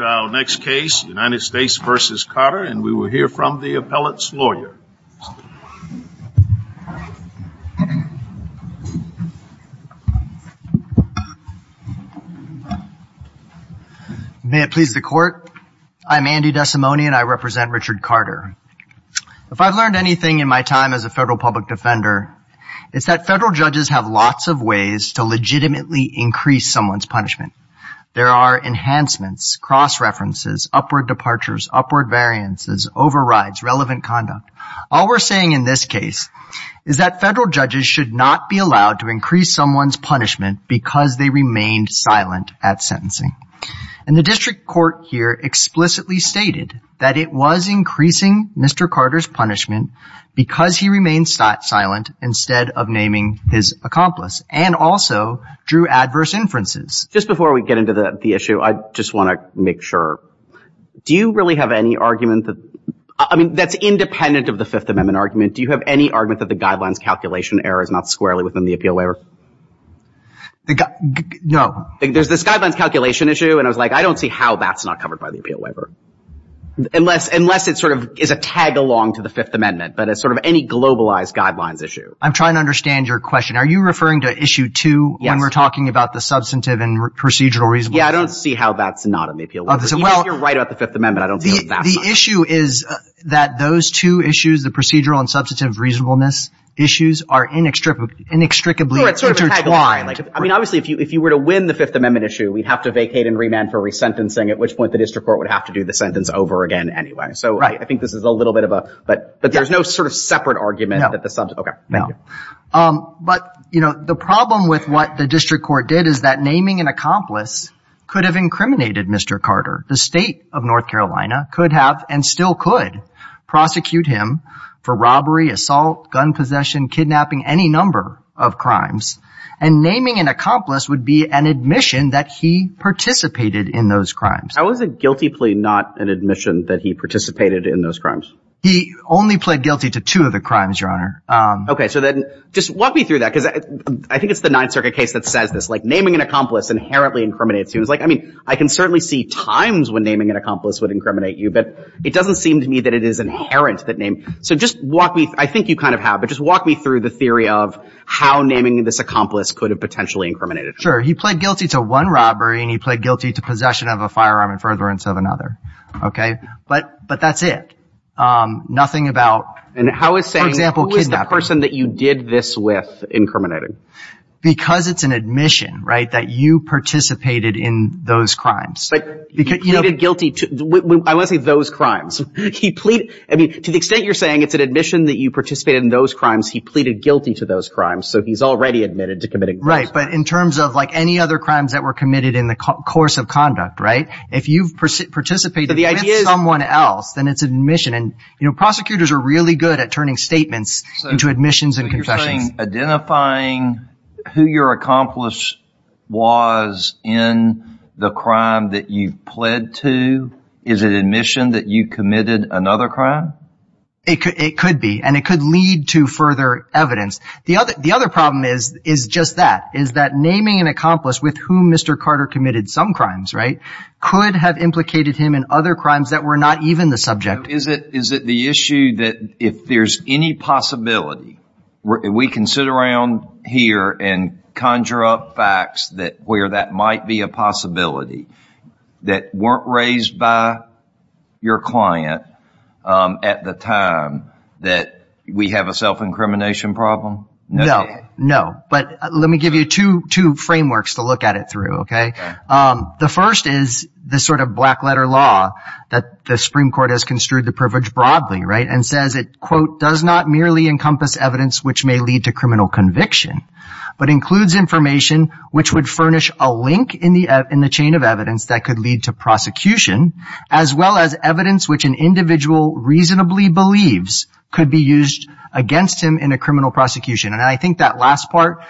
May it please the court, I'm Andy Desimone and I represent Richard Carter. If I've learned anything in my time as a federal public defender, it's that federal judges have lots of ways to legitimately increase someone's punishment. There are enhancements, cross references, upward departures, upward variances, overrides, relevant conduct. All we're saying in this case is that federal judges should not be allowed to increase someone's punishment because they remained silent at sentencing. And the district court here explicitly stated that it was increasing Mr. Carter's punishment because he remained silent instead of naming his accomplice and also drew adverse inferences. Just before we get into the issue, I just want to make sure, do you really have any argument that, I mean, that's independent of the Fifth Amendment argument, do you have any argument that the guidelines calculation error is not squarely within the appeal waiver? No. There's this guidelines calculation issue and I was like, I don't see how that's not covered by the appeal waiver. Unless it sort of is a tag along to the Fifth Amendment, but as sort of any globalized guidelines issue. I'm trying to understand your question. Are you referring to issue two when we're talking about the substantive and procedural reason? Yeah, I don't see how that's not an appeal waiver. Even if you're right about the Fifth Amendment, I don't see how that's not it. The issue is that those two issues, the procedural and substantive reasonableness issues are inextricably intertwined. I mean, obviously, if you were to win the Fifth Amendment issue, we'd have to vacate and remand for resentencing, at which point the district court would have to do the sentence over again anyway. So I think this is a little bit of a, but there's no sort of separate argument. No. Okay. No. But you know, the problem with what the district court did is that naming an accomplice could have incriminated Mr. Carter. The state of North Carolina could have, and still could, prosecute him for robbery, assault, gun possession, kidnapping, any number of crimes. And naming an accomplice would be an admission that he participated in those crimes. How is a guilty plea not an admission that he participated in those crimes? He only pled guilty to two of the crimes, Your Honor. Okay. So then just walk me through that, because I think it's the Ninth Circuit case that says this, like naming an accomplice inherently incriminates you. And it's like, I mean, I can certainly see times when naming an accomplice would incriminate you, but it doesn't seem to me that it is inherent that name. So just walk me, I think you kind of have, but just walk me through the theory of how naming this accomplice could have potentially incriminated him. Sure. He pled guilty to one robbery and he pled guilty to possession of a firearm in furtherance of another. Okay. But, but that's it. Nothing about, for example, kidnapping. And how is saying, who is the person that you did this with incriminating? Because it's an admission, right, that you participated in those crimes. But, you know, the guilty, I want to say those crimes. He pleaded, I mean, to the extent you're saying it's an admission that you participated in those crimes, he pleaded guilty to those crimes. So he's already admitted to committing those crimes. Right. But in terms of, like, any other crimes that were committed in the course of conduct, right, if you've participated with someone else, then it's admission. And, you know, prosecutors are really good at turning statements into admissions and confessions. Identifying who your accomplice was in the crime that you pled to, is it admission that you committed another crime? It could, it could be, and it could lead to further evidence. The other, the other problem is, is just that, is that naming an accomplice with whom Mr. Carter committed some crimes, right, could have implicated him in other crimes that were not even the subject. So is it, is it the issue that if there's any possibility, we can sit around here and conjure up facts that, where that might be a possibility, that weren't raised by your client at the time, that we have a self-incrimination problem? No. No. But let me give you two, two frameworks to look at it through, okay? The first is the sort of black letter law that the Supreme Court has construed the privilege broadly, right, and says it, quote, does not merely encompass evidence which may lead to criminal conviction, but includes information which would furnish a link in the, in the chain of evidence that could lead to prosecution, as well as evidence which an individual reasonably believes could be used against him in a criminal prosecution. And I think that last part,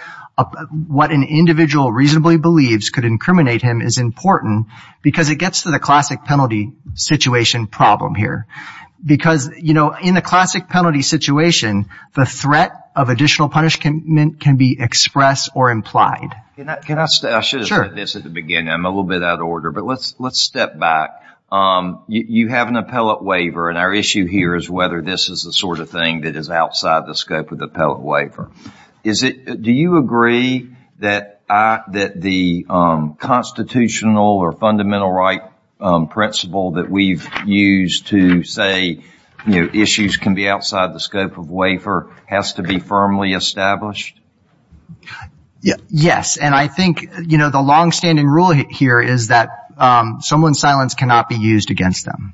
what an individual reasonably believes could incriminate him is important because it gets to the classic penalty situation problem here. Because, you know, in the classic penalty situation, the threat of additional punishment can be expressed or implied. Can I, can I stay? Sure. I should have said this at the beginning. I'm a little bit out of order, but let's, let's step back. You, you have an appellate waiver and our issue here is whether this is the sort of thing that is outside the scope of the appellate waiver. Is it, do you agree that I, that the constitutional or fundamental right principle that we've used to say, you know, issues can be outside the scope of waiver has to be firmly established? Yeah. Yes. And I think, you know, the longstanding rule here is that someone's silence cannot be used against them.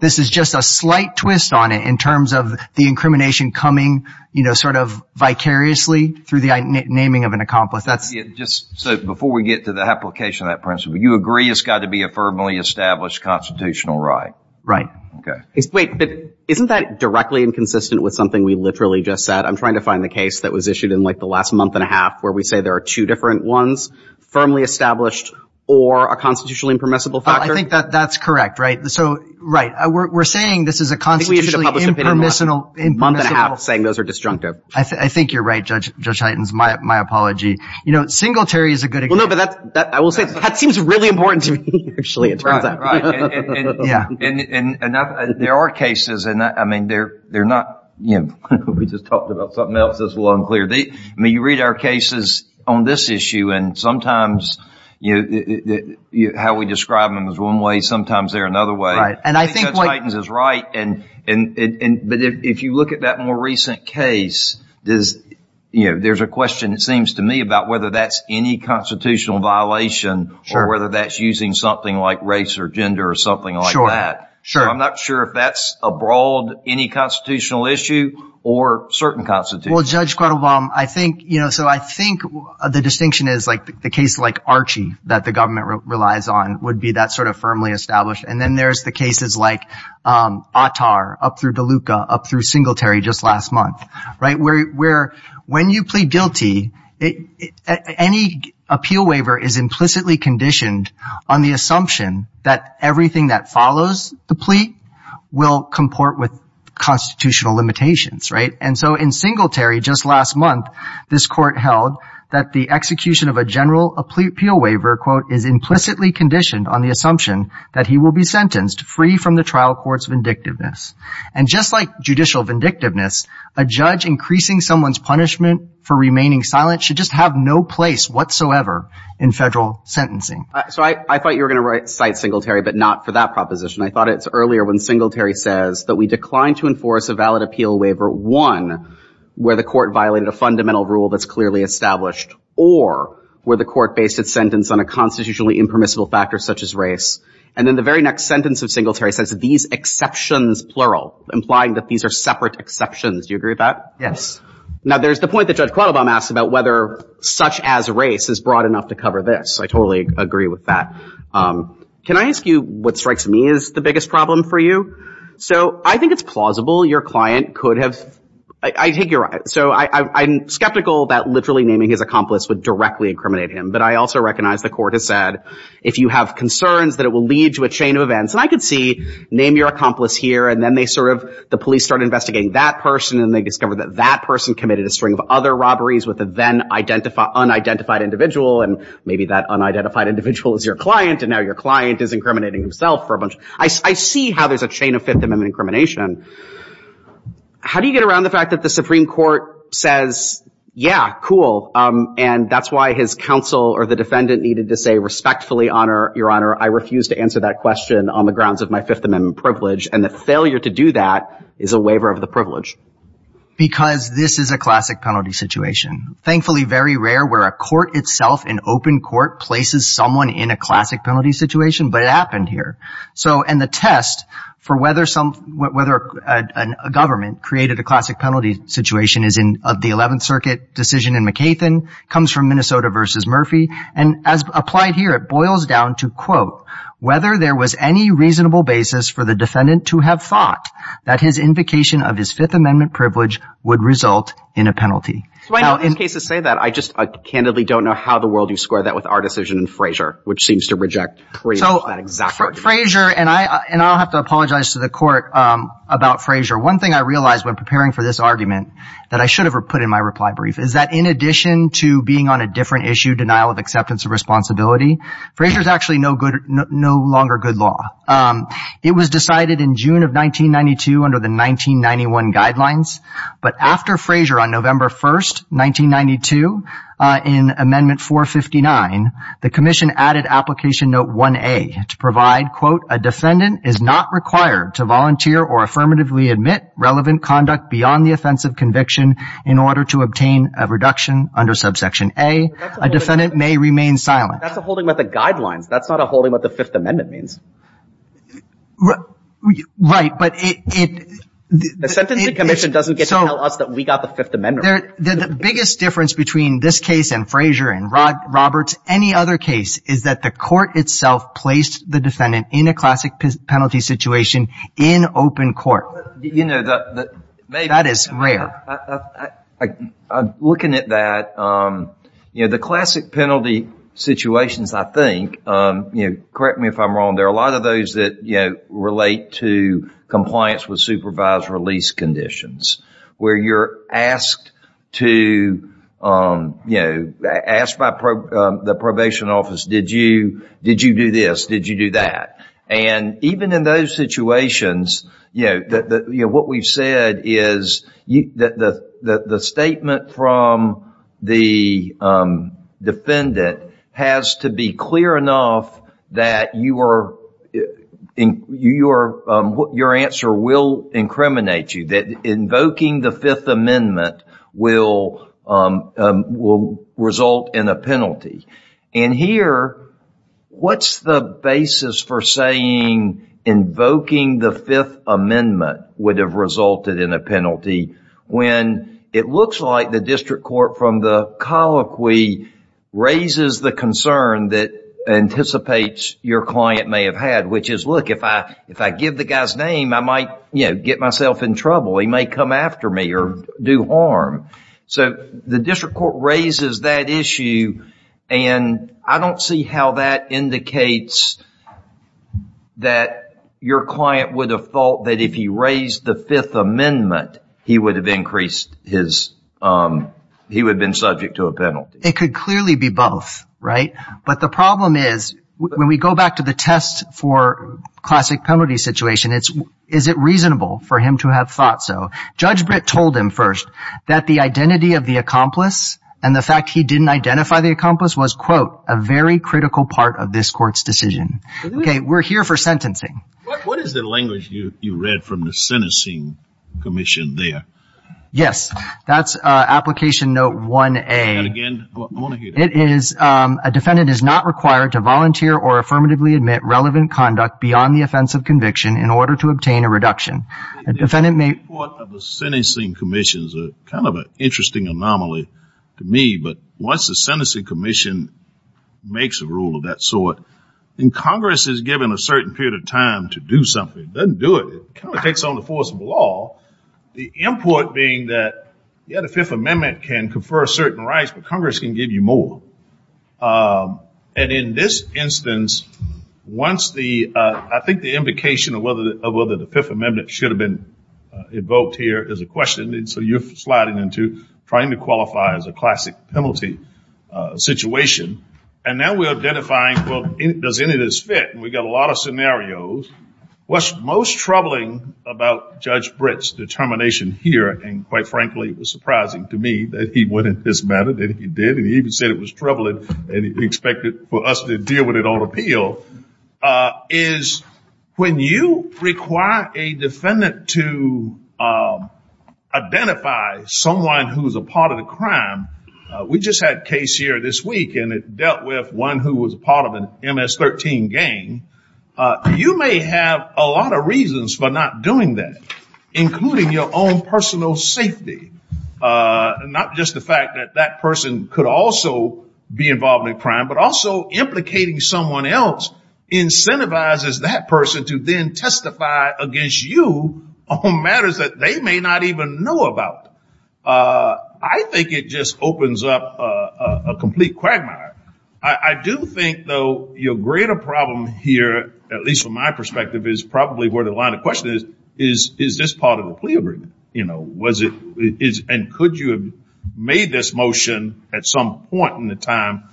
This is just a slight twist on it in terms of the incrimination coming, you know, sort of vicariously through the naming of an accomplice. That's... Yeah, just, so before we get to the application of that principle, you agree it's got to be a firmly established constitutional right? Right. Okay. Wait, but isn't that directly inconsistent with something we literally just said? I'm trying to find the case that was issued in like the last month and a half where we say there are two different ones, firmly established or a constitutionally impermissible factor? I think that that's correct, right? So, right. We're saying this is a constitutionally impermissible saying those are disjunctive. I think you're right, Judge Hytens, my apology. You know, singletary is a good example. Well, no, but that's, I will say, that seems really important to me, actually, it turns out. Right, right. And there are cases, and I mean, they're not, you know, we just talked about something else that's a little unclear. I mean, you read our cases on this issue and sometimes, you know, how we describe them is one way, sometimes they're another way. And I think Judge Hytens is right and, but if you look at that more recent case, you know, there's a question, it seems to me, about whether that's any constitutional violation or whether that's using something like race or gender or something like that. So, I'm not sure if that's a broad, any constitutional issue or certain constitution. Well, Judge Quattlebaum, I think, you know, so I think the distinction is like the case like Archie that the government relies on would be that sort of firmly established. And then there's the cases like Attar, up through DeLuca, up through Singletary just last month, right, where when you plead guilty, any appeal waiver is implicitly conditioned on the assumption that everything that follows the plea will comport with constitutional limitations, right? And so in Singletary, just last month, this court held that the execution of a general appeal waiver, quote, is implicitly conditioned on the assumption that he will be sentenced free from the trial court's vindictiveness. And just like judicial vindictiveness, a judge increasing someone's punishment for remaining silent should just have no place whatsoever in federal sentencing. So I thought you were going to cite Singletary, but not for that proposition. I thought it's earlier when Singletary says that we declined to enforce a valid appeal waiver, one, where the court violated a fundamental rule that's clearly established, or where the court based its sentence on a constitutionally impermissible factor such as race. And then the very next sentence of Singletary says, these exceptions, plural, implying that these are separate exceptions. Do you agree with that? Yes. Now there's the point that Judge Qualibam asks about whether such as race is broad enough to cover this. I totally agree with that. Can I ask you what strikes me as the biggest problem for you? So I think it's plausible your client could have, I take your, so I'm skeptical that literally naming his accomplice would directly incriminate him. But I also recognize the court has said, if you have concerns that it will lead to a chain of events, and I could see, name your accomplice here, and then they sort of, the police start investigating that person, and they discover that that person committed a string of other robberies with a then unidentified individual, and maybe that unidentified individual is your client, and now your client is incriminating himself for a bunch of, I see how there's a chain of Fifth Amendment incrimination. How do you get around the fact that the Supreme Court says, yeah, cool, and that's why his counsel or the defendant needed to say, respectfully, Your Honor, I refuse to answer that question on the grounds of my Fifth Amendment privilege, and the failure to do that is a waiver of the privilege? Because this is a classic penalty situation. Thankfully, very rare where a court itself, an open court, places someone in a classic penalty situation, but it happened here. So, another government created a classic penalty situation of the Eleventh Circuit decision in McCaithin, comes from Minnesota versus Murphy, and as applied here, it boils down to, quote, whether there was any reasonable basis for the defendant to have thought that his invocation of his Fifth Amendment privilege would result in a penalty. So, I know in cases say that, I just candidly don't know how in the world you square that with our decision in Frazier, which seems to reject pretty much that exact argument. With Frazier, and I'll have to apologize to the court about Frazier, one thing I realized when preparing for this argument that I should have put in my reply brief is that in addition to being on a different issue, denial of acceptance of responsibility, Frazier's actually no longer good law. It was decided in June of 1992 under the 1991 guidelines, but after Frazier on November 1st, 1992, in Amendment 459, the Commission added Application Note 1A to provide that, quote, a defendant is not required to volunteer or affirmatively admit relevant conduct beyond the offense of conviction in order to obtain a reduction under Subsection A, a defendant may remain silent. That's a holding with the guidelines. That's not a holding with what the Fifth Amendment means. Right, but it, it, it, it, so, the biggest difference between this case and Frazier and Roberts, any other case, is that the court itself placed the defendant in a classic penalty situation in open court. You know, the, the, maybe, I, I, I, I'm looking at that, you know, the classic penalty situations, I think, you know, correct me if I'm wrong, there are a lot of those that, you know, relate to compliance with supervised release conditions, where you're asked to, you know, asked by pro, the probation office, did you, did you do this, did you do that? And even in those situations, you know, the, the, you know, what we've said is, you, the, the, the statement from the defendant has to be clear enough that you are, your, your answer will incriminate you, that invoking the Fifth Amendment will, will result in a penalty. And here, what's the basis for saying invoking the Fifth Amendment would have resulted in a penalty, when it looks like the district court from the colloquy raises the concern that anticipates your client may have had, which is, look, if I, if I give the guy's name, I might, you know, get myself in trouble. He may come after me or do harm. So the district court raises that issue, and I don't see how that indicates that your client would have thought that if he raised the Fifth Amendment, he would have increased his, he would have been subject to a penalty. It could clearly be both, right? But the problem is, when we go back to the test for classic penalty situation, it's, is it reasonable for him to have thought so? Judge Britt told him first that the identity of the accomplice and the fact he didn't identify the accomplice was, quote, a very critical part of this court's decision. Okay, we're here for sentencing. What is the language you, you read from the sentencing commission there? Yes, that's application note 1A. And again, I want to hear that. It is, a defendant is not required to volunteer or affirmatively admit relevant conduct beyond the offense of conviction in order to obtain a reduction. A defendant may... The import of the sentencing commission is kind of an interesting anomaly to me, but once the sentencing commission makes a rule of that sort, then Congress is given a certain period of time to do something. It doesn't do it. It kind of takes on the force of the law. The import being that, yeah, the Fifth Amendment can confer certain rights, but Congress can give you more. And in this instance, once the, I think the implication of whether the Fifth Amendment should have been invoked here is a question, and so you're sliding into trying to qualify as a classic penalty situation. And now we're identifying, well, does any of this fit? And we've got a lot of scenarios. What's most troubling about Judge Britt's determination here, and quite frankly, it was surprising to me that he went into this matter, that he did, and he even said it was troubling, and he expected for us to deal with it on appeal, is when you require a defendant to identify someone who's a part of the crime, we just had a case here this week, and it dealt with one who was part of an MS-13 gang. You may have a lot of reasons for not doing that, including your own personal safety. And not just the fact that that person could also be involved in a crime, but also implicating someone else incentivizes that person to then testify against you on matters that they may not even know about. I think it just opens up a complete quagmire. I do think, though, your greater problem here, at least from my perspective, is probably where the line of question is, is this part of a plea agreement? And could you have made this motion at some point in the time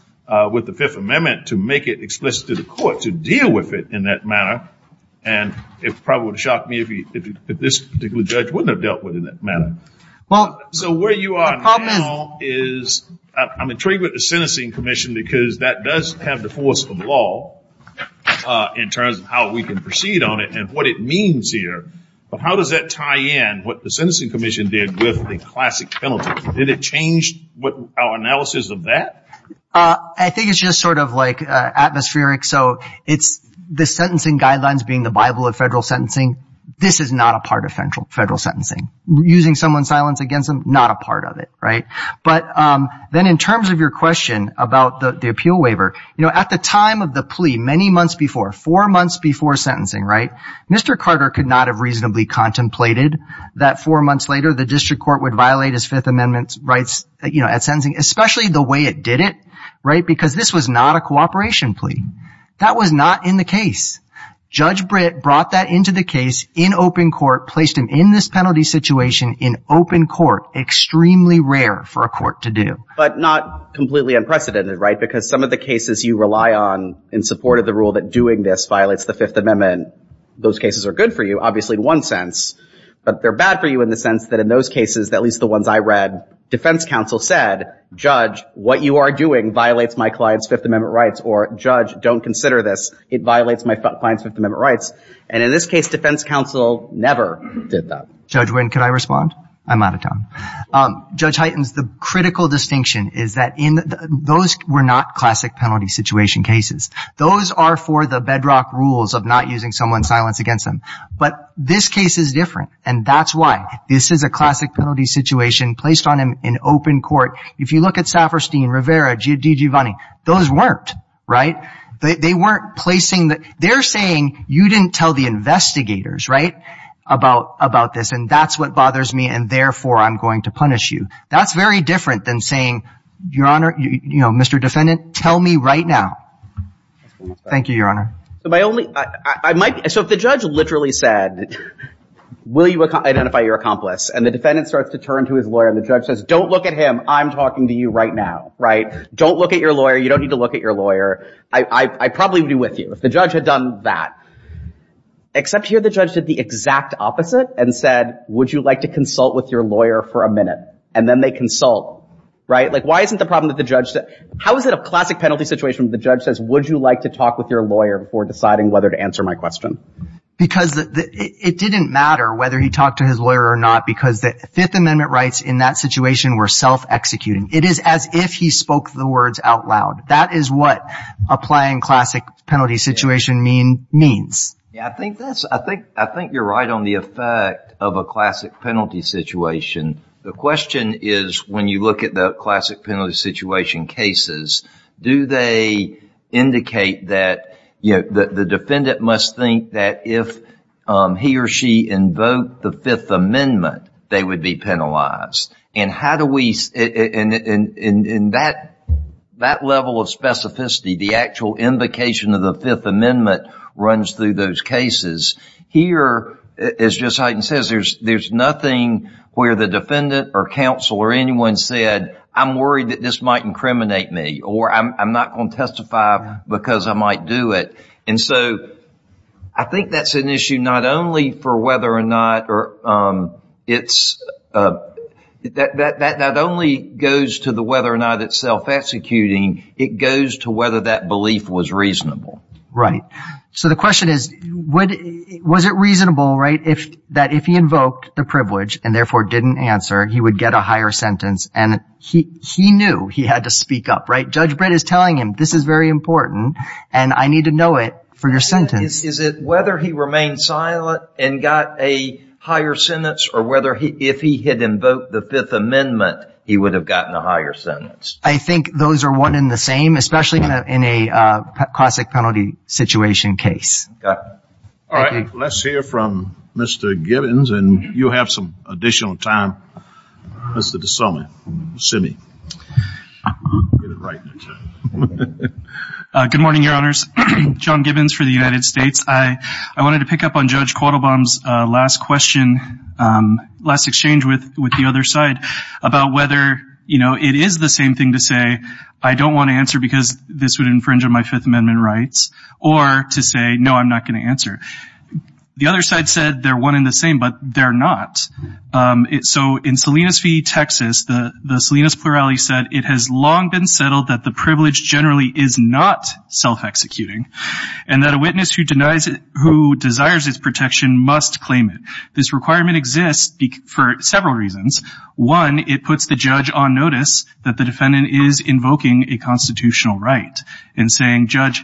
with the Fifth Amendment to make it explicit to the court to deal with it in that manner? And it probably would have shocked me if this particular judge wouldn't have dealt with it in that manner. So where you are now is, I'm intrigued with the sentencing commission because that does have the force of law in terms of how we can proceed on it, and what it means here. But how does that tie in what the sentencing commission did with the classic penalty? Did it change our analysis of that? I think it's just sort of like atmospheric. So the sentencing guidelines being the Bible of federal sentencing, this is not a part of federal sentencing. Using someone's silence against them, not a part of it. But then in terms of your question about the appeal waiver, at the time of the plea, many months before, four months before sentencing, Mr. Carter could not have reasonably contemplated that four months later the district court would violate his Fifth Amendment rights at sentencing, especially the way it did it, because this was not a cooperation plea. That was not in the case. Judge Britt brought that into the case in open court, placed him in this penalty situation in open court. Extremely rare for a court to do. But not completely unprecedented, right? Because some of the cases you rely on in support of the rule that doing this violates the Fifth Amendment, those cases are good for you, obviously in one sense. But they're bad for you in the sense that in those cases, at least the ones I read, defense counsel said, Judge, what you are doing violates my client's Fifth Amendment rights. Or, Judge, don't consider this. It violates my client's Fifth Amendment rights. And in this case, defense counsel never did that. Judge Wynn, can I respond? I'm out of time. Judge Hytens, the critical distinction is that those were not classic penalty situation cases. Those are for the bedrock rules of not using someone's silence against them. But this case is different, and that's why. This is a classic penalty situation placed on him in open court. If you look at Safferstein, Rivera, Giovanni, those weren't, right? They weren't placing the, they're saying you didn't tell the investigators, right, about this, and that's what bothers me, and therefore I'm going to punish you. That's very different than saying, Your Honor, you know, Mr. Defendant, tell me right now. Thank you, Your Honor. So if the judge literally said, will you identify your accomplice, and the defendant starts to turn to his lawyer, and the judge says, don't look at him, I'm talking to you right now, right? Don't look at your lawyer, you don't need to look at your lawyer, I probably would be with you if the judge had done that. Except here the judge did the exact opposite and said, would you like to consult with your lawyer for a minute? And then they consult, right? Like, why isn't the problem that the judge, how is it a classic penalty situation if the judge says, would you like to talk with your lawyer before deciding whether to answer my question? Because it didn't matter whether he talked to his lawyer or not, because the Fifth Amendment rights in that situation were self-executing. It is as if he spoke the words out loud. That is what applying classic penalty situation means. I think you're right on the effect of a classic penalty situation. The question is, when you look at the classic penalty situation cases, do they indicate that, you know, the defendant must think that if he or she invoked the Fifth Amendment, they would be penalized? And how do we, in that level of specificity, the actual invocation of the Fifth Amendment runs through those cases. Here, as Justice Hyten says, there's nothing where the defendant or counsel or anyone said, I'm worried that this might incriminate me, or I'm not going to testify because I might do it. And so I think that's an issue not only for whether or not it's, that only goes to the whether or not it's self-executing, it goes to whether that belief was reasonable. Right. So the question is, was it reasonable, right, that if he invoked the privilege and therefore didn't answer, he would get a higher sentence, and he knew he had to speak up, right? Judge Brett is telling him, this is very important, and I need to know it for your sentence. Is it whether he remained silent and got a higher sentence, or whether if he had invoked the Fifth Amendment, he would have gotten a higher sentence? I think those are one and the same, especially in a classic penalty situation case. All right. Let's hear from Mr. Gibbons, and you'll have some additional time, Mr. DeSommi Good morning, Your Honors. John Gibbons for the United States. I wanted to pick up on Judge Quattlebaum's last question, last exchange with the other side about whether, you know, it is the same thing to say, I don't want to answer because this would infringe on my Fifth Amendment rights, or to say, no, I'm not going to answer. The other side said they're one and the same, but they're not. So in Salinas v. Texas, the Salinas plurality said, it has long been settled that the privilege generally is not self-executing, and that a witness who desires its protection must claim it. This requirement exists for several reasons. One, it puts the judge on notice that the defendant is invoking a constitutional right and saying, Judge,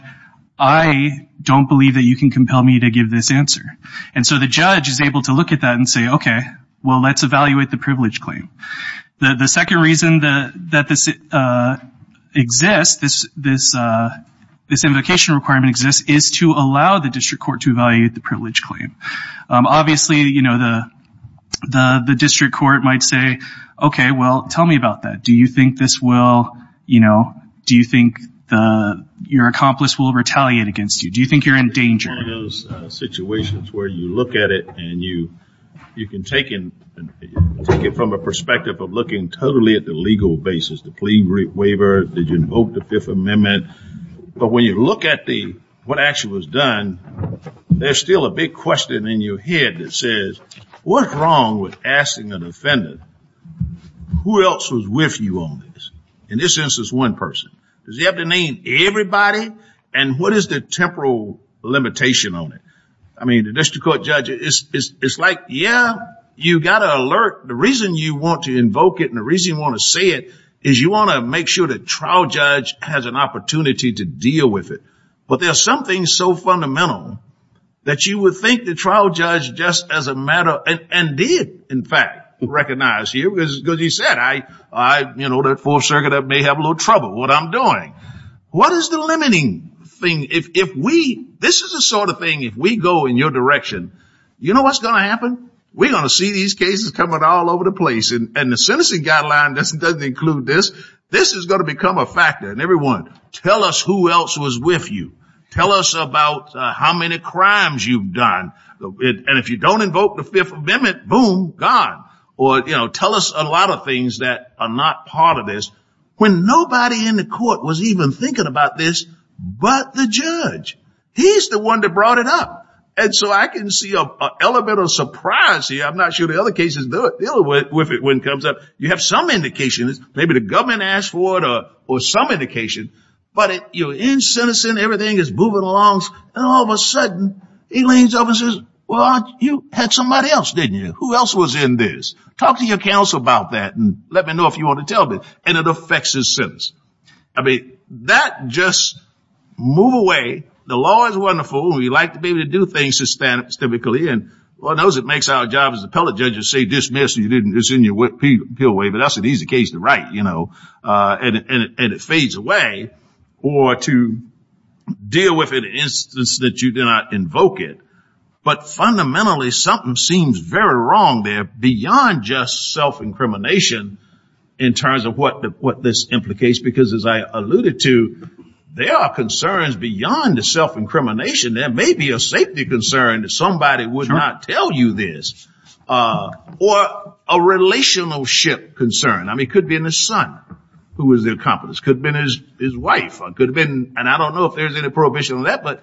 I don't believe that you can compel me to give this answer. And so the judge is able to look at that and say, okay, well, let's evaluate the privilege claim. The second reason that this exists, this invocation requirement exists, is to allow the district court to evaluate the privilege claim. Obviously, you know, the district court might say, okay, well, tell me about that. Do you think this will, you know, do you think your accomplice will retaliate against you? Do you think you're in danger? One of those situations where you look at it and you can take it from a perspective of looking totally at the legal basis, the plea waiver, did you invoke the Fifth Amendment? But when you look at what actually was done, there's still a big question in your head that says, what's wrong with asking the defendant, who else was with you on this? In this instance, one person. Does he have to name everybody? And what is the temporal limitation on it? I mean, the district court judge, it's like, yeah, you got to alert. The reason you want to invoke it and the reason you want to say it is you want to make sure the trial judge has an opportunity to deal with it. But there's something so fundamental that you would think the trial judge just as a matter of, and did, in fact, recognize you, because he said, you know, the Fourth Circuit may have a little trouble with what I'm doing. What is the limiting thing? If we, this is the sort of thing, if we go in your direction, you know what's going to happen? We're going to see these cases coming all over the place. And the sentencing guideline doesn't include this. This is going to become a factor. And everyone, tell us who else was with you. Tell us about how many crimes you've done. And if you don't invoke the Fifth Amendment, boom, gone. Or, you know, tell us a lot of things that are not part of this. When nobody in the court was even thinking about this but the judge. He's the one that brought it up. And so I can see an element of surprise here. I'm not sure the other cases deal with it when it comes up. You have some indication, maybe the government asked for it or some indication, but you're in sentencing, everything is moving along, and all of a sudden he leans over and says, well, you had somebody else, didn't you? Who else was in this? Talk to your counsel about that and let me know if you want to tell me. And it affects his sentence. I mean, that just move away. The law is wonderful. We like to be able to do things systemically. And Lord knows it makes our job as appellate judges to say dismiss, it's in your way, but that's an easy case to write. And it fades away. Or to deal with an instance that you did not invoke it. But fundamentally something seems very wrong there beyond just self-incrimination in terms of what this implicates. Because as I alluded to, there are concerns beyond the self-incrimination. There may be a safety concern that somebody would not tell you this. Or a relationship concern. I mean, it could be in the son who was the accomplice. Could have been his wife. And I don't know if there's any prohibition on that, but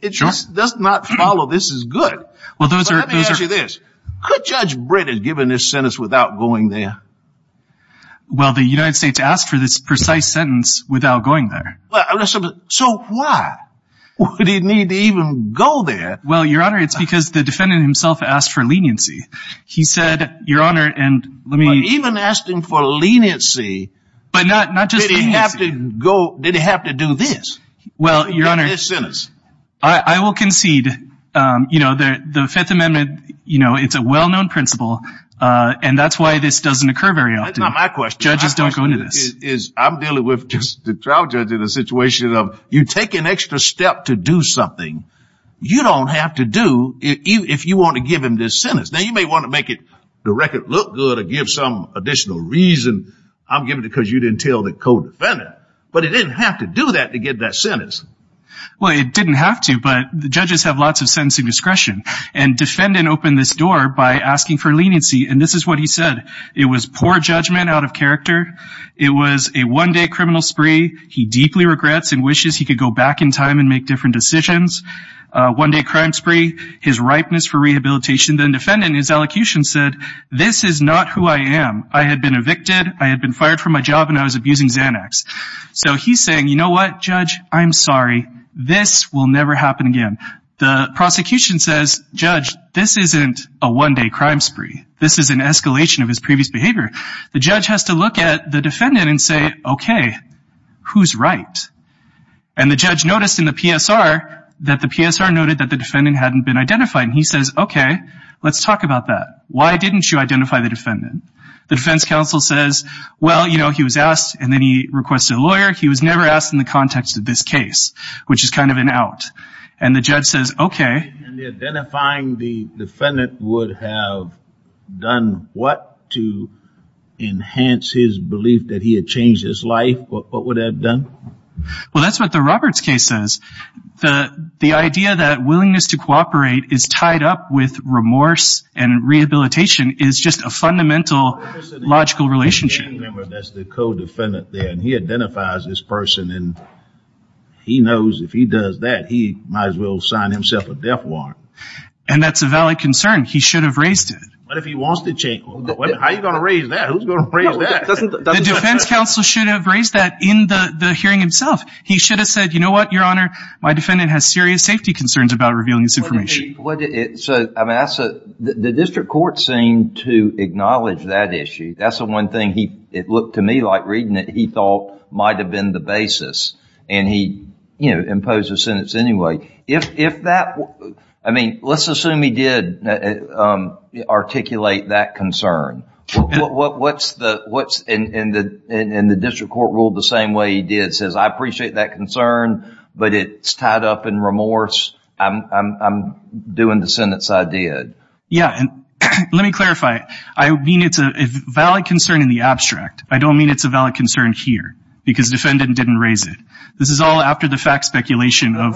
it just does not follow this as good. Well, those are... Let me ask you this. Could Judge Britton have given this sentence without going there? Well, the United States asked for this precise sentence without going there. So why would he need to even go there? Well, Your Honor, it's because the defendant himself asked for leniency. He said, Your Honor, and let me... Even asking for leniency, did he have to go, did he have to do this? Well, Your Honor, I will concede, you know, that the Fifth Amendment, you know, it's a well-known principle. And that's why this doesn't occur very often. That's not my question. Judges don't go into this. I'm dealing with just the trial judge in a situation of you take an extra step to do something you don't have to do if you want to give him this sentence. Now, you may want to make it, the record look good or give some additional reason. I'm giving it because you didn't tell the co-defendant. But he didn't have to do that to get that sentence. Well, it didn't have to, but the judges have lots of sense of discretion. And defendant opened this door by asking for leniency. And this is what he said. It was poor judgment out of character. It was a one-day criminal spree. He deeply regrets and wishes he could go back in time and make different decisions. One-day crime spree, his ripeness for rehabilitation. Then defendant in his elocution said, this is not who I am. I had been evicted, I had been fired from my job, and I was abusing Xanax. So he's saying, you know what, Judge, I'm sorry. This will never happen again. The prosecution says, Judge, this isn't a one-day crime spree. This is an escalation of his previous behavior. The judge has to look at the defendant and say, OK, who's right? And the judge noticed in the PSR that the PSR noted that the defendant hadn't been identified. He says, OK, let's talk about that. Why didn't you identify the defendant? The defense counsel says, well, you know, he was asked, and then he requested a lawyer. He was never asked in the context of this case, which is kind of an out. And the judge says, OK. And identifying the defendant would have done what to enhance his belief that he had changed his life? What would that have done? Well, that's what the Roberts case says. The idea that willingness to cooperate is tied up with remorse and rehabilitation is just a fundamental logical relationship. That's the co-defendant there. And he identifies this person, and he knows if he does that, he might as well sign himself a death warrant. And that's a valid concern. He should have raised it. But if he wants to change, how are you going to raise that? Who's going to raise that? The defense counsel should have raised that in the hearing himself. He should have said, you know what, Your Honor, my defendant has serious safety concerns about revealing this information. So I'm asked, the district court seemed to acknowledge that issue. That's the one thing he looked to me like reading it, he thought might have been the basis. And he imposed a sentence anyway. If that, I mean, let's assume he did articulate that concern. What's in the district court rule the same way he did? It says, I appreciate that concern, but it's tied up in remorse. I'm doing the sentence I did. Yeah, and let me clarify. I mean, it's a valid concern in the abstract. I don't mean it's a valid concern here, because the defendant didn't raise it. This is all after the fact speculation of...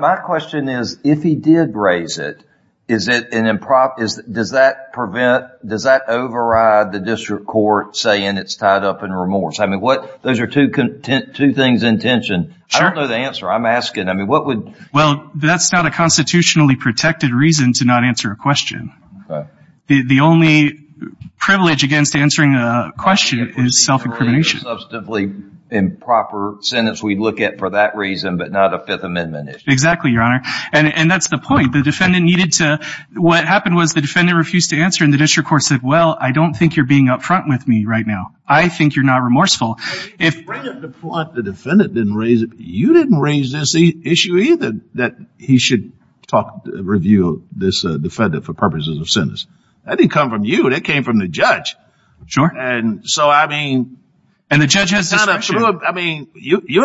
My question is, if he did raise it, does that prevent, does that override the district court saying it's tied up in remorse? I mean, those are two things in tension. I don't know the answer. I'm asking, I mean, what would... Well, that's not a constitutionally protected reason to not answer a question. The only privilege against answering a question is self-incrimination. Substantively improper sentence we look at for that reason, but not a Fifth Amendment issue. Exactly, Your Honor. And that's the point. The defendant needed to... What happened was the defendant refused to answer and the district court said, well, I don't think you're being up front with me right now. I think you're not remorseful. If the defendant didn't raise it, you didn't raise this issue either, that he should talk, review this defendant for purposes of sentence. That didn't come from you. That came from the judge. And so, I mean, you're in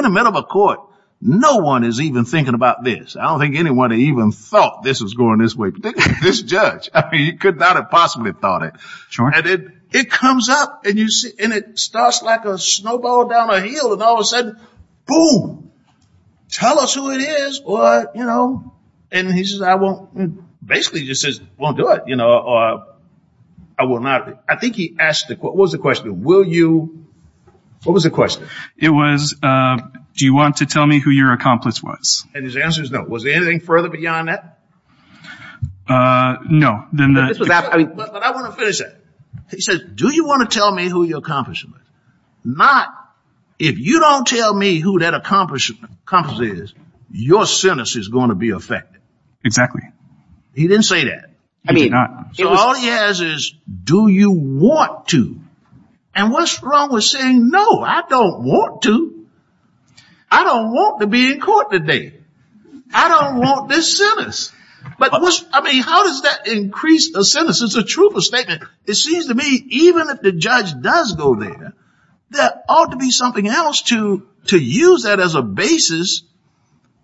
the middle of a court. No one is even thinking about this. I don't think anyone even thought this was going this way, particularly this judge. I mean, you could not have possibly thought it. It comes up and it starts like a snowball down a hill and all of a sudden, boom, tell us who it is or... And he says, I won't... Basically just says, won't do it. I will not do it. I think he asked, what was the question? Will you... What was the question? It was, do you want to tell me who your accomplice was? And his answer is no. Was there anything further beyond that? No. But I want to finish that. He said, do you want to tell me who your accomplice is? Not, if you don't tell me who that accomplice is, your sentence is going to be affected. Exactly. He didn't say that. He did not. So all he has is, do you want to? And what's wrong with saying no, I don't want to. I don't want to be in court today. I don't want this sentence. But I mean, how does that increase a sentence? It's a truthful statement. It seems to me, even if the judge does go there, there ought to be something else to use that as a basis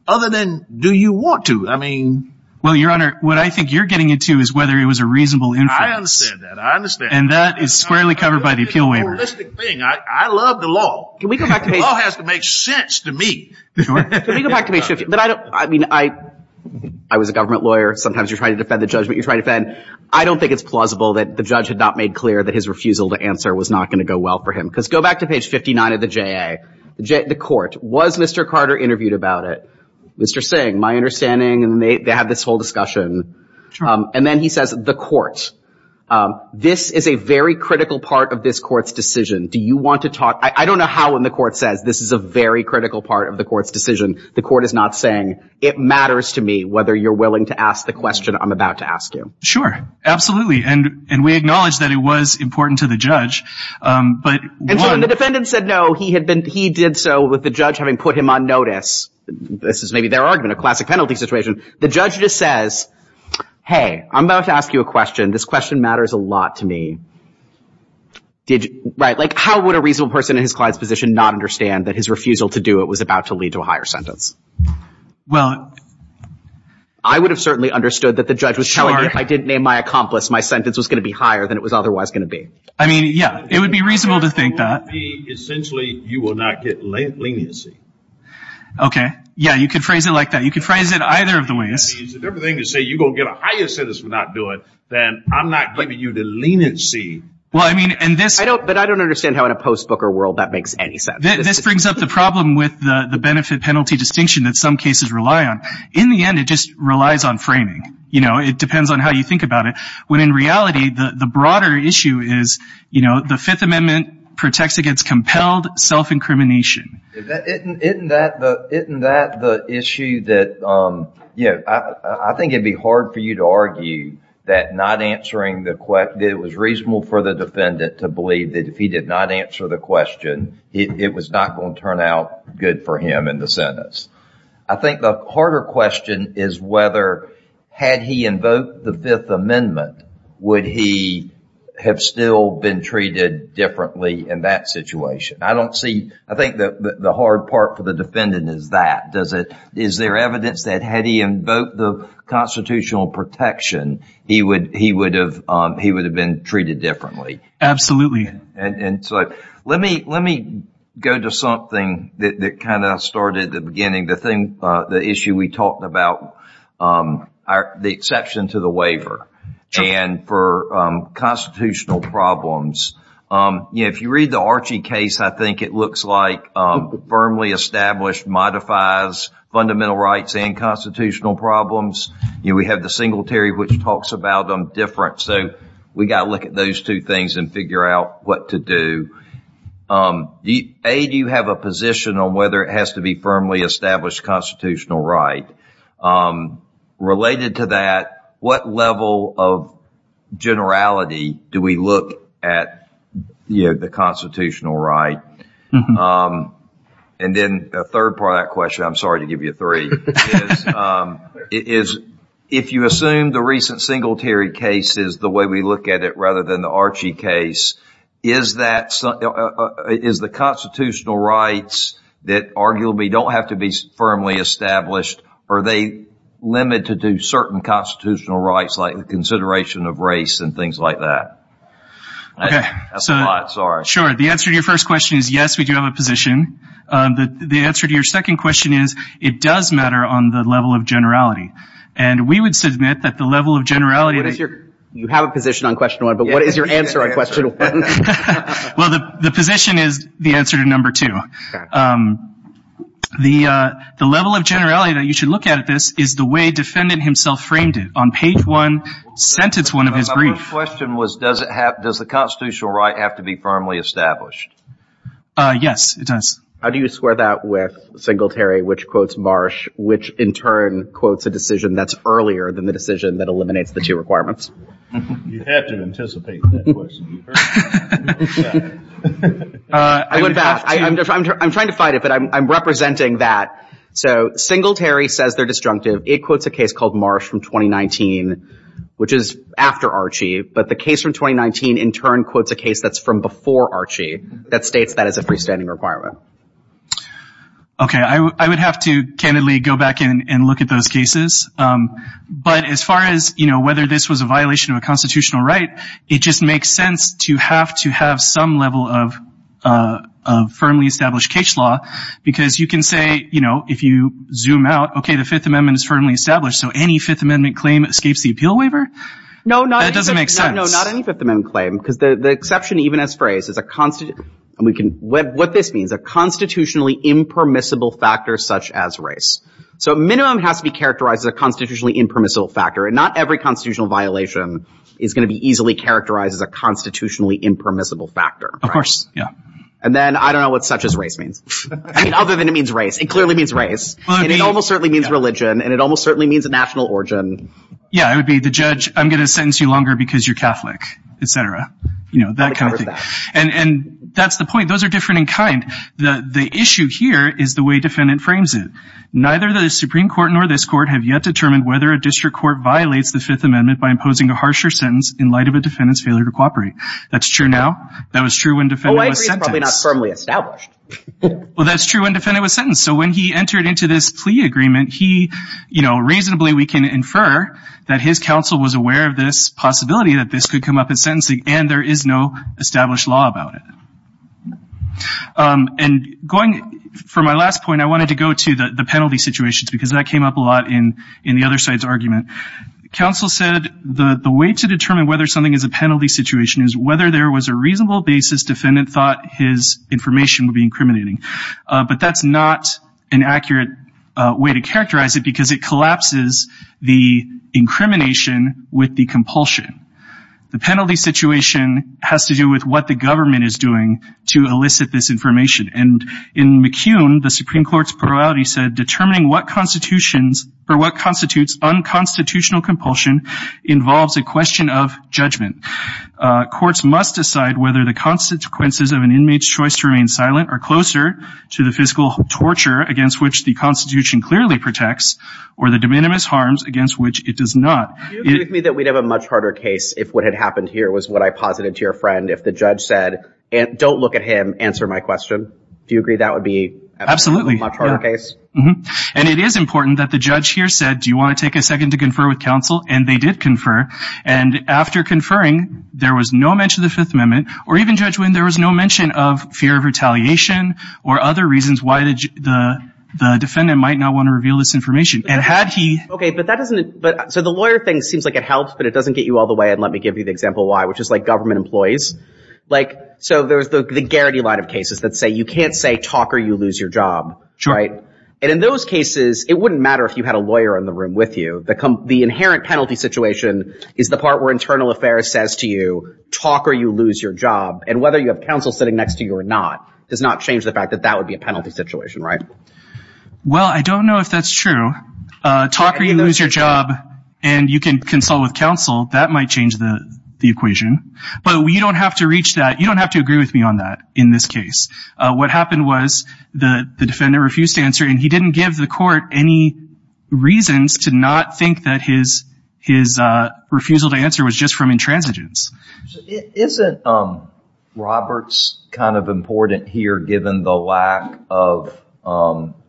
other than, do you want to? I mean... Well, Your Honor, what I think you're getting into is whether it was a reasonable inference. I understand that. I understand that. And that is squarely covered by the appeal waiver. That's the thing. I love the law. The law has to make sense to me. Can we go back to page... But I don't... I mean, I was a government lawyer. Sometimes you're trying to defend the judgment you're trying to defend. I don't think it's plausible that the judge had not made clear that his refusal to answer was not going to go well for him. Because go back to page 59 of the JA, the court. Was Mr. Carter interviewed about it? Mr. Singh, my understanding. And they had this whole discussion. And then he says, the court. This is a very critical part of this court's decision. Do you want to talk... I don't know how in the court says this is a very critical part of the court's decision. The court is not saying, it matters to me whether you're willing to ask the question I'm about to ask you. Sure. Absolutely. And we acknowledge that it was important to the judge. But... The defendant said no. He had been... He did so with the judge having put him on notice. This is maybe their argument, a classic penalty situation. The judge just says, hey, I'm about to ask you a question. This question matters a lot to me. Did... Right. Like, how would a reasonable person in his client's position not understand that his refusal to do it was about to lead to a higher sentence? Well... I would have certainly understood that the judge was telling me if I didn't name my accomplice, my sentence was going to be higher than it was otherwise going to be. I mean, yeah, it would be reasonable to think that. Essentially, you will not get leniency. Okay. Yeah. You could phrase it like that. You could phrase it either of the ways. If everything is to say you're going to get a higher sentence for not doing it, then I'm not giving you the leniency. Well, I mean, and this... I don't... But I don't understand how in a post-Booker world that makes any sense. This brings up the problem with the benefit-penalty distinction that some cases rely on. In the end, it just relies on framing. You know, it depends on how you think about it. When in reality, the broader issue is, you know, the Fifth Amendment protects against compelled self-incrimination. Isn't that the issue that, you know, I think it'd be hard for you to argue that not answering the question, it was reasonable for the defendant to believe that if he did not answer the question, it was not going to turn out good for him in the sentence. I think the harder question is whether, had he invoked the Fifth Amendment, would he have still been treated differently in that situation? I don't see... I think that the hard part for the defendant is that. Does it... Is there evidence that had he invoked the constitutional protection, he would have been treated differently? Absolutely. And so let me go to something that kind of started at the beginning. The thing, the issue we talked about, the exception to the waiver and for constitutional problems. You know, if you read the Archie case, I think it looks like firmly established, modifies fundamental rights and constitutional problems. You know, we have the Singletary, which talks about them different. So we've got to look at those two things and figure out what to do. A, do you have a position on whether it has to be firmly established constitutional right? Related to that, what level of generality do we look at the constitutional right? And then a third part of that question, I'm sorry to give you three, is if you assume the recent Singletary case is the way we look at it rather than the Archie case, is that is the constitutional rights that arguably don't have to be firmly established? Are they limited to certain constitutional rights like the consideration of race and things like that? OK, so I'm sorry. Sure. The answer to your first question is yes, we do have a position. The answer to your second question is it does matter on the level of generality. And we would submit that the level of generality. What is your, you have a position on question one, but what is your answer on question one? Well, the position is the answer to number two. The level of generality that you should look at this is the way defendant himself framed it on page one, sentence one of his brief. My first question was, does it have, does the constitutional right have to be firmly established? Yes, it does. How do you square that with Singletary, which quotes Marsh, which in turn quotes a decision that's earlier than the decision that eliminates the two requirements? You have to anticipate that question. I went back, I'm trying to fight it, but I'm representing that. So Singletary says they're disjunctive. It quotes a case called Marsh from 2019, which is after Archie. But the case from 2019 in turn quotes a case that's from before Archie that states that is a freestanding requirement. Okay. I would have to candidly go back in and look at those cases. But as far as, you know, whether this was a violation of a constitutional right, it just makes sense to have to have some level of, of firmly established cage law, because you can say, you know, if you zoom out, okay, the fifth amendment is firmly established. So any fifth amendment claim escapes the appeal waiver? No, not, that doesn't make sense. No, not any fifth amendment claim, because the exception even as phrased is a constitutional, what this means, a constitutionally impermissible factor, such as race. So minimum has to be characterized as a constitutionally impermissible factor. And not every constitutional violation is going to be easily characterized as a constitutionally impermissible factor. Of course. Yeah. And then I don't know what such as race means. I mean, other than it means race, it clearly means race. It almost certainly means religion. And it almost certainly means a national origin. Yeah. It would be the judge. I'm going to sentence you longer because you're Catholic, et cetera. You know, that kind of thing. And, and that's the point. Those are different in kind. The, the issue here is the way defendant frames it. Neither the Supreme Court nor this court have yet determined whether a district court violates the fifth amendment by imposing a harsher sentence in light of a defendant's failure to cooperate. That's true now. That was true when defendant was sentenced. Oh, I agree, it's probably not firmly established. Well, that's true when defendant was sentenced. So when he entered into this plea agreement, he, you know, reasonably we can infer that his counsel was aware of this possibility that this could come up as a violation of English law about it. And going for my last point, I wanted to go to the, the penalty situations because that came up a lot in, in the other side's argument. Counsel said the, the way to determine whether something is a penalty situation is whether there was a reasonable basis defendant thought his information would be incriminating. But that's not an accurate way to characterize it because it collapses the incrimination with the compulsion. The penalty situation has to do with what the government is doing to elicit this information. And in McCune, the Supreme Court's plurality said, determining what constitutions or what constitutes unconstitutional compulsion involves a question of judgment. Courts must decide whether the consequences of an inmate's choice to remain silent or closer to the fiscal torture against which the constitution clearly protects or the de minimis harms against which it does not. Do you agree with me that we'd have a much harder case if what had happened here was what I posited to your friend, if the judge said, don't look at him, answer my question? Do you agree that would be a much harder case? And it is important that the judge here said, do you want to take a second to confer with counsel? And they did confer. And after conferring, there was no mention of the Fifth Amendment or even Judge Wynn, there was no mention of fear of retaliation or other reasons why the, the defendant might not want to reveal this information. And had he... Okay. But that doesn't, but so the lawyer thing seems like it helps, but it doesn't get you all the way. And let me give you the example why, which is like government employees. Like, so there's the Garrity line of cases that say, you can't say talk or you lose your job, right? And in those cases, it wouldn't matter if you had a lawyer in the room with you. The inherent penalty situation is the part where internal affairs says to you, talk or you lose your job. And whether you have counsel sitting next to you or not, does not change the fact that that would be a penalty situation, right? Well, I don't know if that's true. Talk or you lose your job and you can consult with counsel. That might change the equation, but you don't have to reach that. You don't have to agree with me on that in this case. What happened was the defendant refused to answer and he didn't give the court any reasons to not think that his, his refusal to answer was just from intransigence. Isn't Roberts kind of important here, given the lack of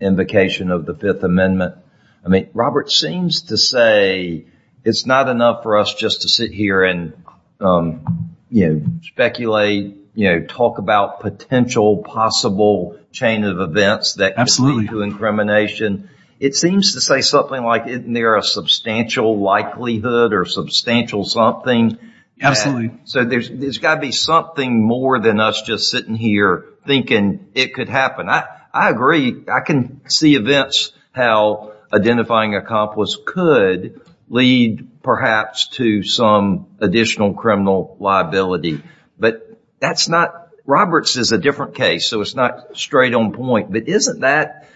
invocation of the Fifth Amendment? I mean, Robert seems to say it's not enough for us just to sit here and, you know, speculate, you know, talk about potential possible chain of events that could lead to incrimination. It seems to say something like, isn't there a substantial likelihood or substantial something? Absolutely. So there's got to be something more than us just sitting here thinking it could happen. I agree. I can see events how identifying a comp was could lead perhaps to some additional criminal liability. But that's not, Roberts is a different case, so it's not straight on point. But isn't that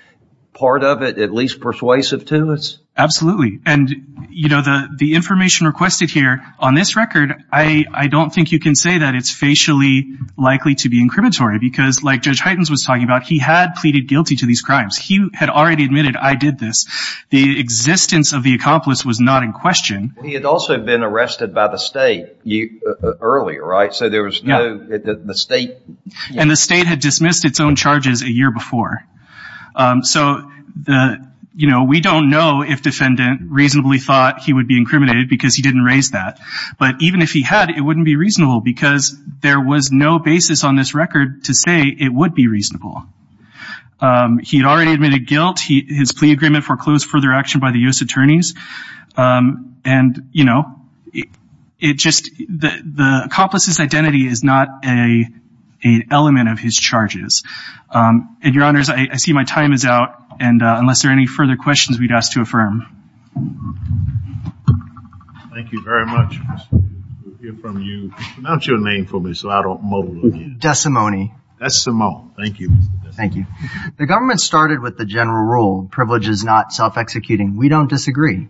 part of it at least persuasive to us? Absolutely. And, you know, the information requested here on this record, I don't think you can say that it's facially likely to be incriminatory because like Judge Heitens was talking about, he had pleaded guilty to these crimes. He had already admitted, I did this. The existence of the accomplice was not in question. He had also been arrested by the state earlier, right? So there was no mistake. And the state had dismissed its own charges a year before. So, you know, we don't know if defendant reasonably thought he would be incriminated because he didn't raise that. But even if he had, it wouldn't be reasonable because there was no basis on this reasonable. He had already admitted guilt. His plea agreement foreclosed further action by the U.S. attorneys. And, you know, it just, the accomplice's identity is not an element of his charges. And, Your Honors, I see my time is out. And unless there are any further questions we'd ask to affirm. Thank you very much. We'll hear from you. Pronounce your name for me so I don't mull it again. Desimone. Desimone. Thank you. Thank you. The government started with the general rule. Privilege is not self-executing. We don't disagree.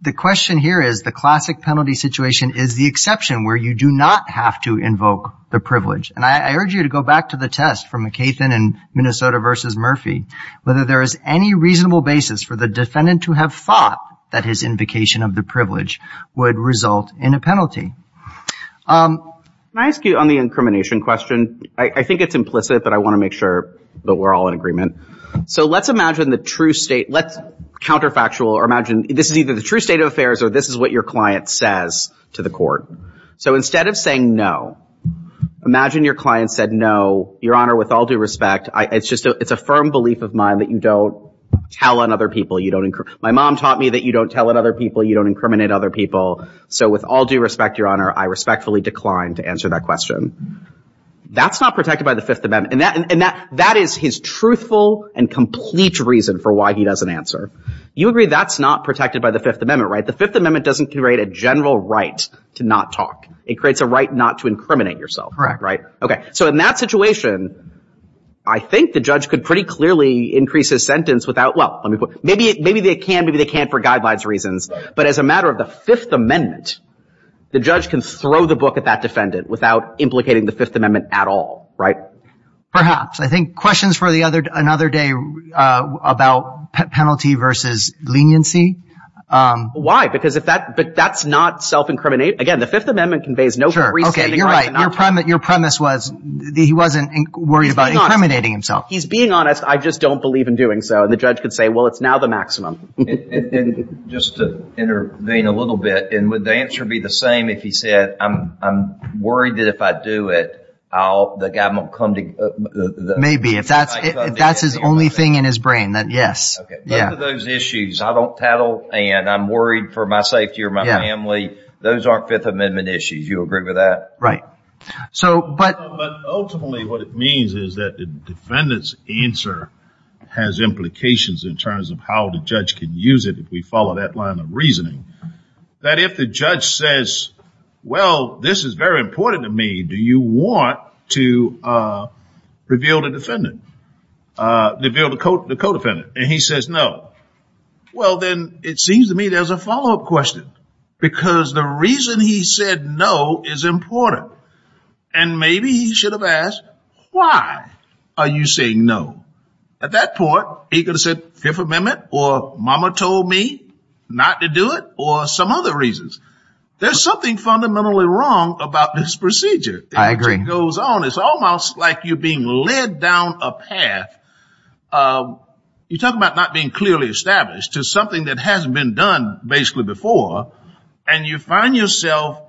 The question here is the classic penalty situation is the exception where you do not have to invoke the privilege. And I urge you to go back to the test from McCaithin in Minnesota versus Murphy, whether there is any reasonable basis for the defendant to have thought that his invocation of the privilege would result in a penalty. Um, can I ask you on the incrimination question? I think it's implicit, but I want to make sure that we're all in agreement. So let's imagine the true state, let's counterfactual or imagine this is either the true state of affairs or this is what your client says to the court. So instead of saying no, imagine your client said, no, Your Honor, with all due respect, I, it's just, it's a firm belief of mine that you don't tell on other people. You don't incur. My mom taught me that you don't tell it other people. You don't incriminate other people. So with all due respect, Your Honor, I respectfully declined to answer that question. That's not protected by the fifth amendment. And that, and that, that is his truthful and complete reason for why he doesn't answer. You agree that's not protected by the fifth amendment, right? The fifth amendment doesn't create a general right to not talk. It creates a right not to incriminate yourself. Correct. Right. Okay. So in that situation, I think the judge could pretty clearly increase his sentence without, well, let me put, maybe, maybe they can, maybe they can't for guidelines reasons, but as a matter of the fifth amendment, the judge can throw the book at that defendant without implicating the fifth amendment at all, right? Perhaps. I think questions for the other, another day, uh, about penalty versus leniency. Um, why? Because if that, but that's not self-incriminating again, the fifth amendment conveys no. Sure. Okay. You're right. Your premise, your premise was the, he wasn't worried about incriminating himself. He's being honest. I just don't believe in doing so. And the judge could say, well, it's now the maximum. Just to intervene a little bit. And would the answer be the same? If he said, I'm, I'm worried that if I do it, I'll, the guy won't come to. Maybe if that's, if that's his only thing in his brain, then yes. Those issues I don't tattle and I'm worried for my safety or my family. Those aren't fifth amendment issues. You agree with that? Right. So, but. But ultimately what it means is that the defendant's answer has implications in terms of how the judge can use it. If we follow that line of reasoning, that if the judge says, well, this is very important to me. Do you want to, uh, reveal the defendant, uh, reveal the code, the co-defendant? And he says, no. Well, then it seems to me, there's a follow-up question because the reason he said no is important. And maybe he should have asked, why are you saying no? At that point, he could have said fifth amendment or mama told me not to do it or some other reasons. There's something fundamentally wrong about this procedure. It goes on. It's almost like you're being led down a path. Um, you talk about not being clearly established to something that hasn't been done basically before. And you find yourself,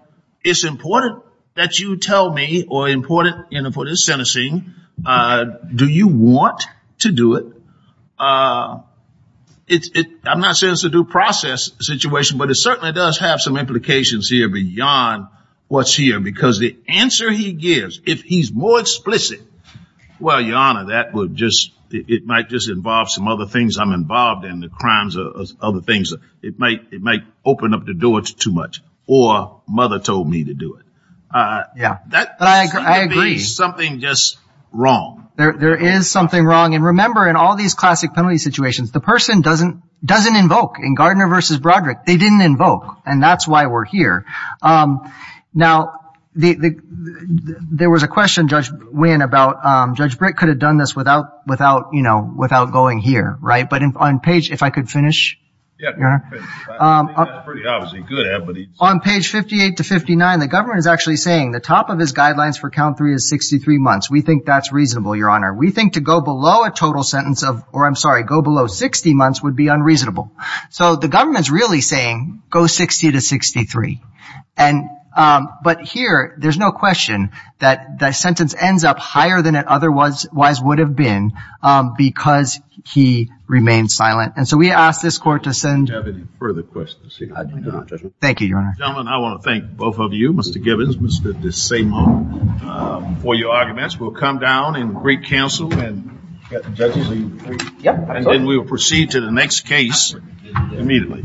it's important that you tell me or important in a foot is sentencing. Uh, do you want to do it? Uh, it's it, I'm not saying it's a due process situation, but it certainly does have some implications here beyond what's here because the answer he gives, if he's more explicit, well, your honor, that would just, it might just involve some other things. I'm involved in the crimes of other things. It might, it might open up the doors too much or mother told me to do it. Uh, yeah, I agree. Something just wrong. There, there is something wrong. And remember in all these classic penalty situations, the person doesn't doesn't invoke in Gardner versus Broderick. They didn't invoke. And that's why we're here. Um, now the, the, there was a question judge win about, um, judge Brit could have done this without, without, you know, without going here. Right. But on page, if I could finish, um, on page 58 to 59, the government is actually saying the top of his guidelines for count three is 63 months. We think that's reasonable. Your honor. We think to go below a total sentence of, or I'm sorry, go below 60 months would be unreasonable. So the government's really saying go 60 to 63. And, um, but here there's no question that the sentence ends up higher than it otherwise would have been, um, because he remained silent. And so we asked this court to send further questions. Thank you, your honor. I want to thank both of you, Mr. Gibbons, Mr. DeSimone, um, for your arguments. We'll come down in great council and and then we will proceed to the next case immediately.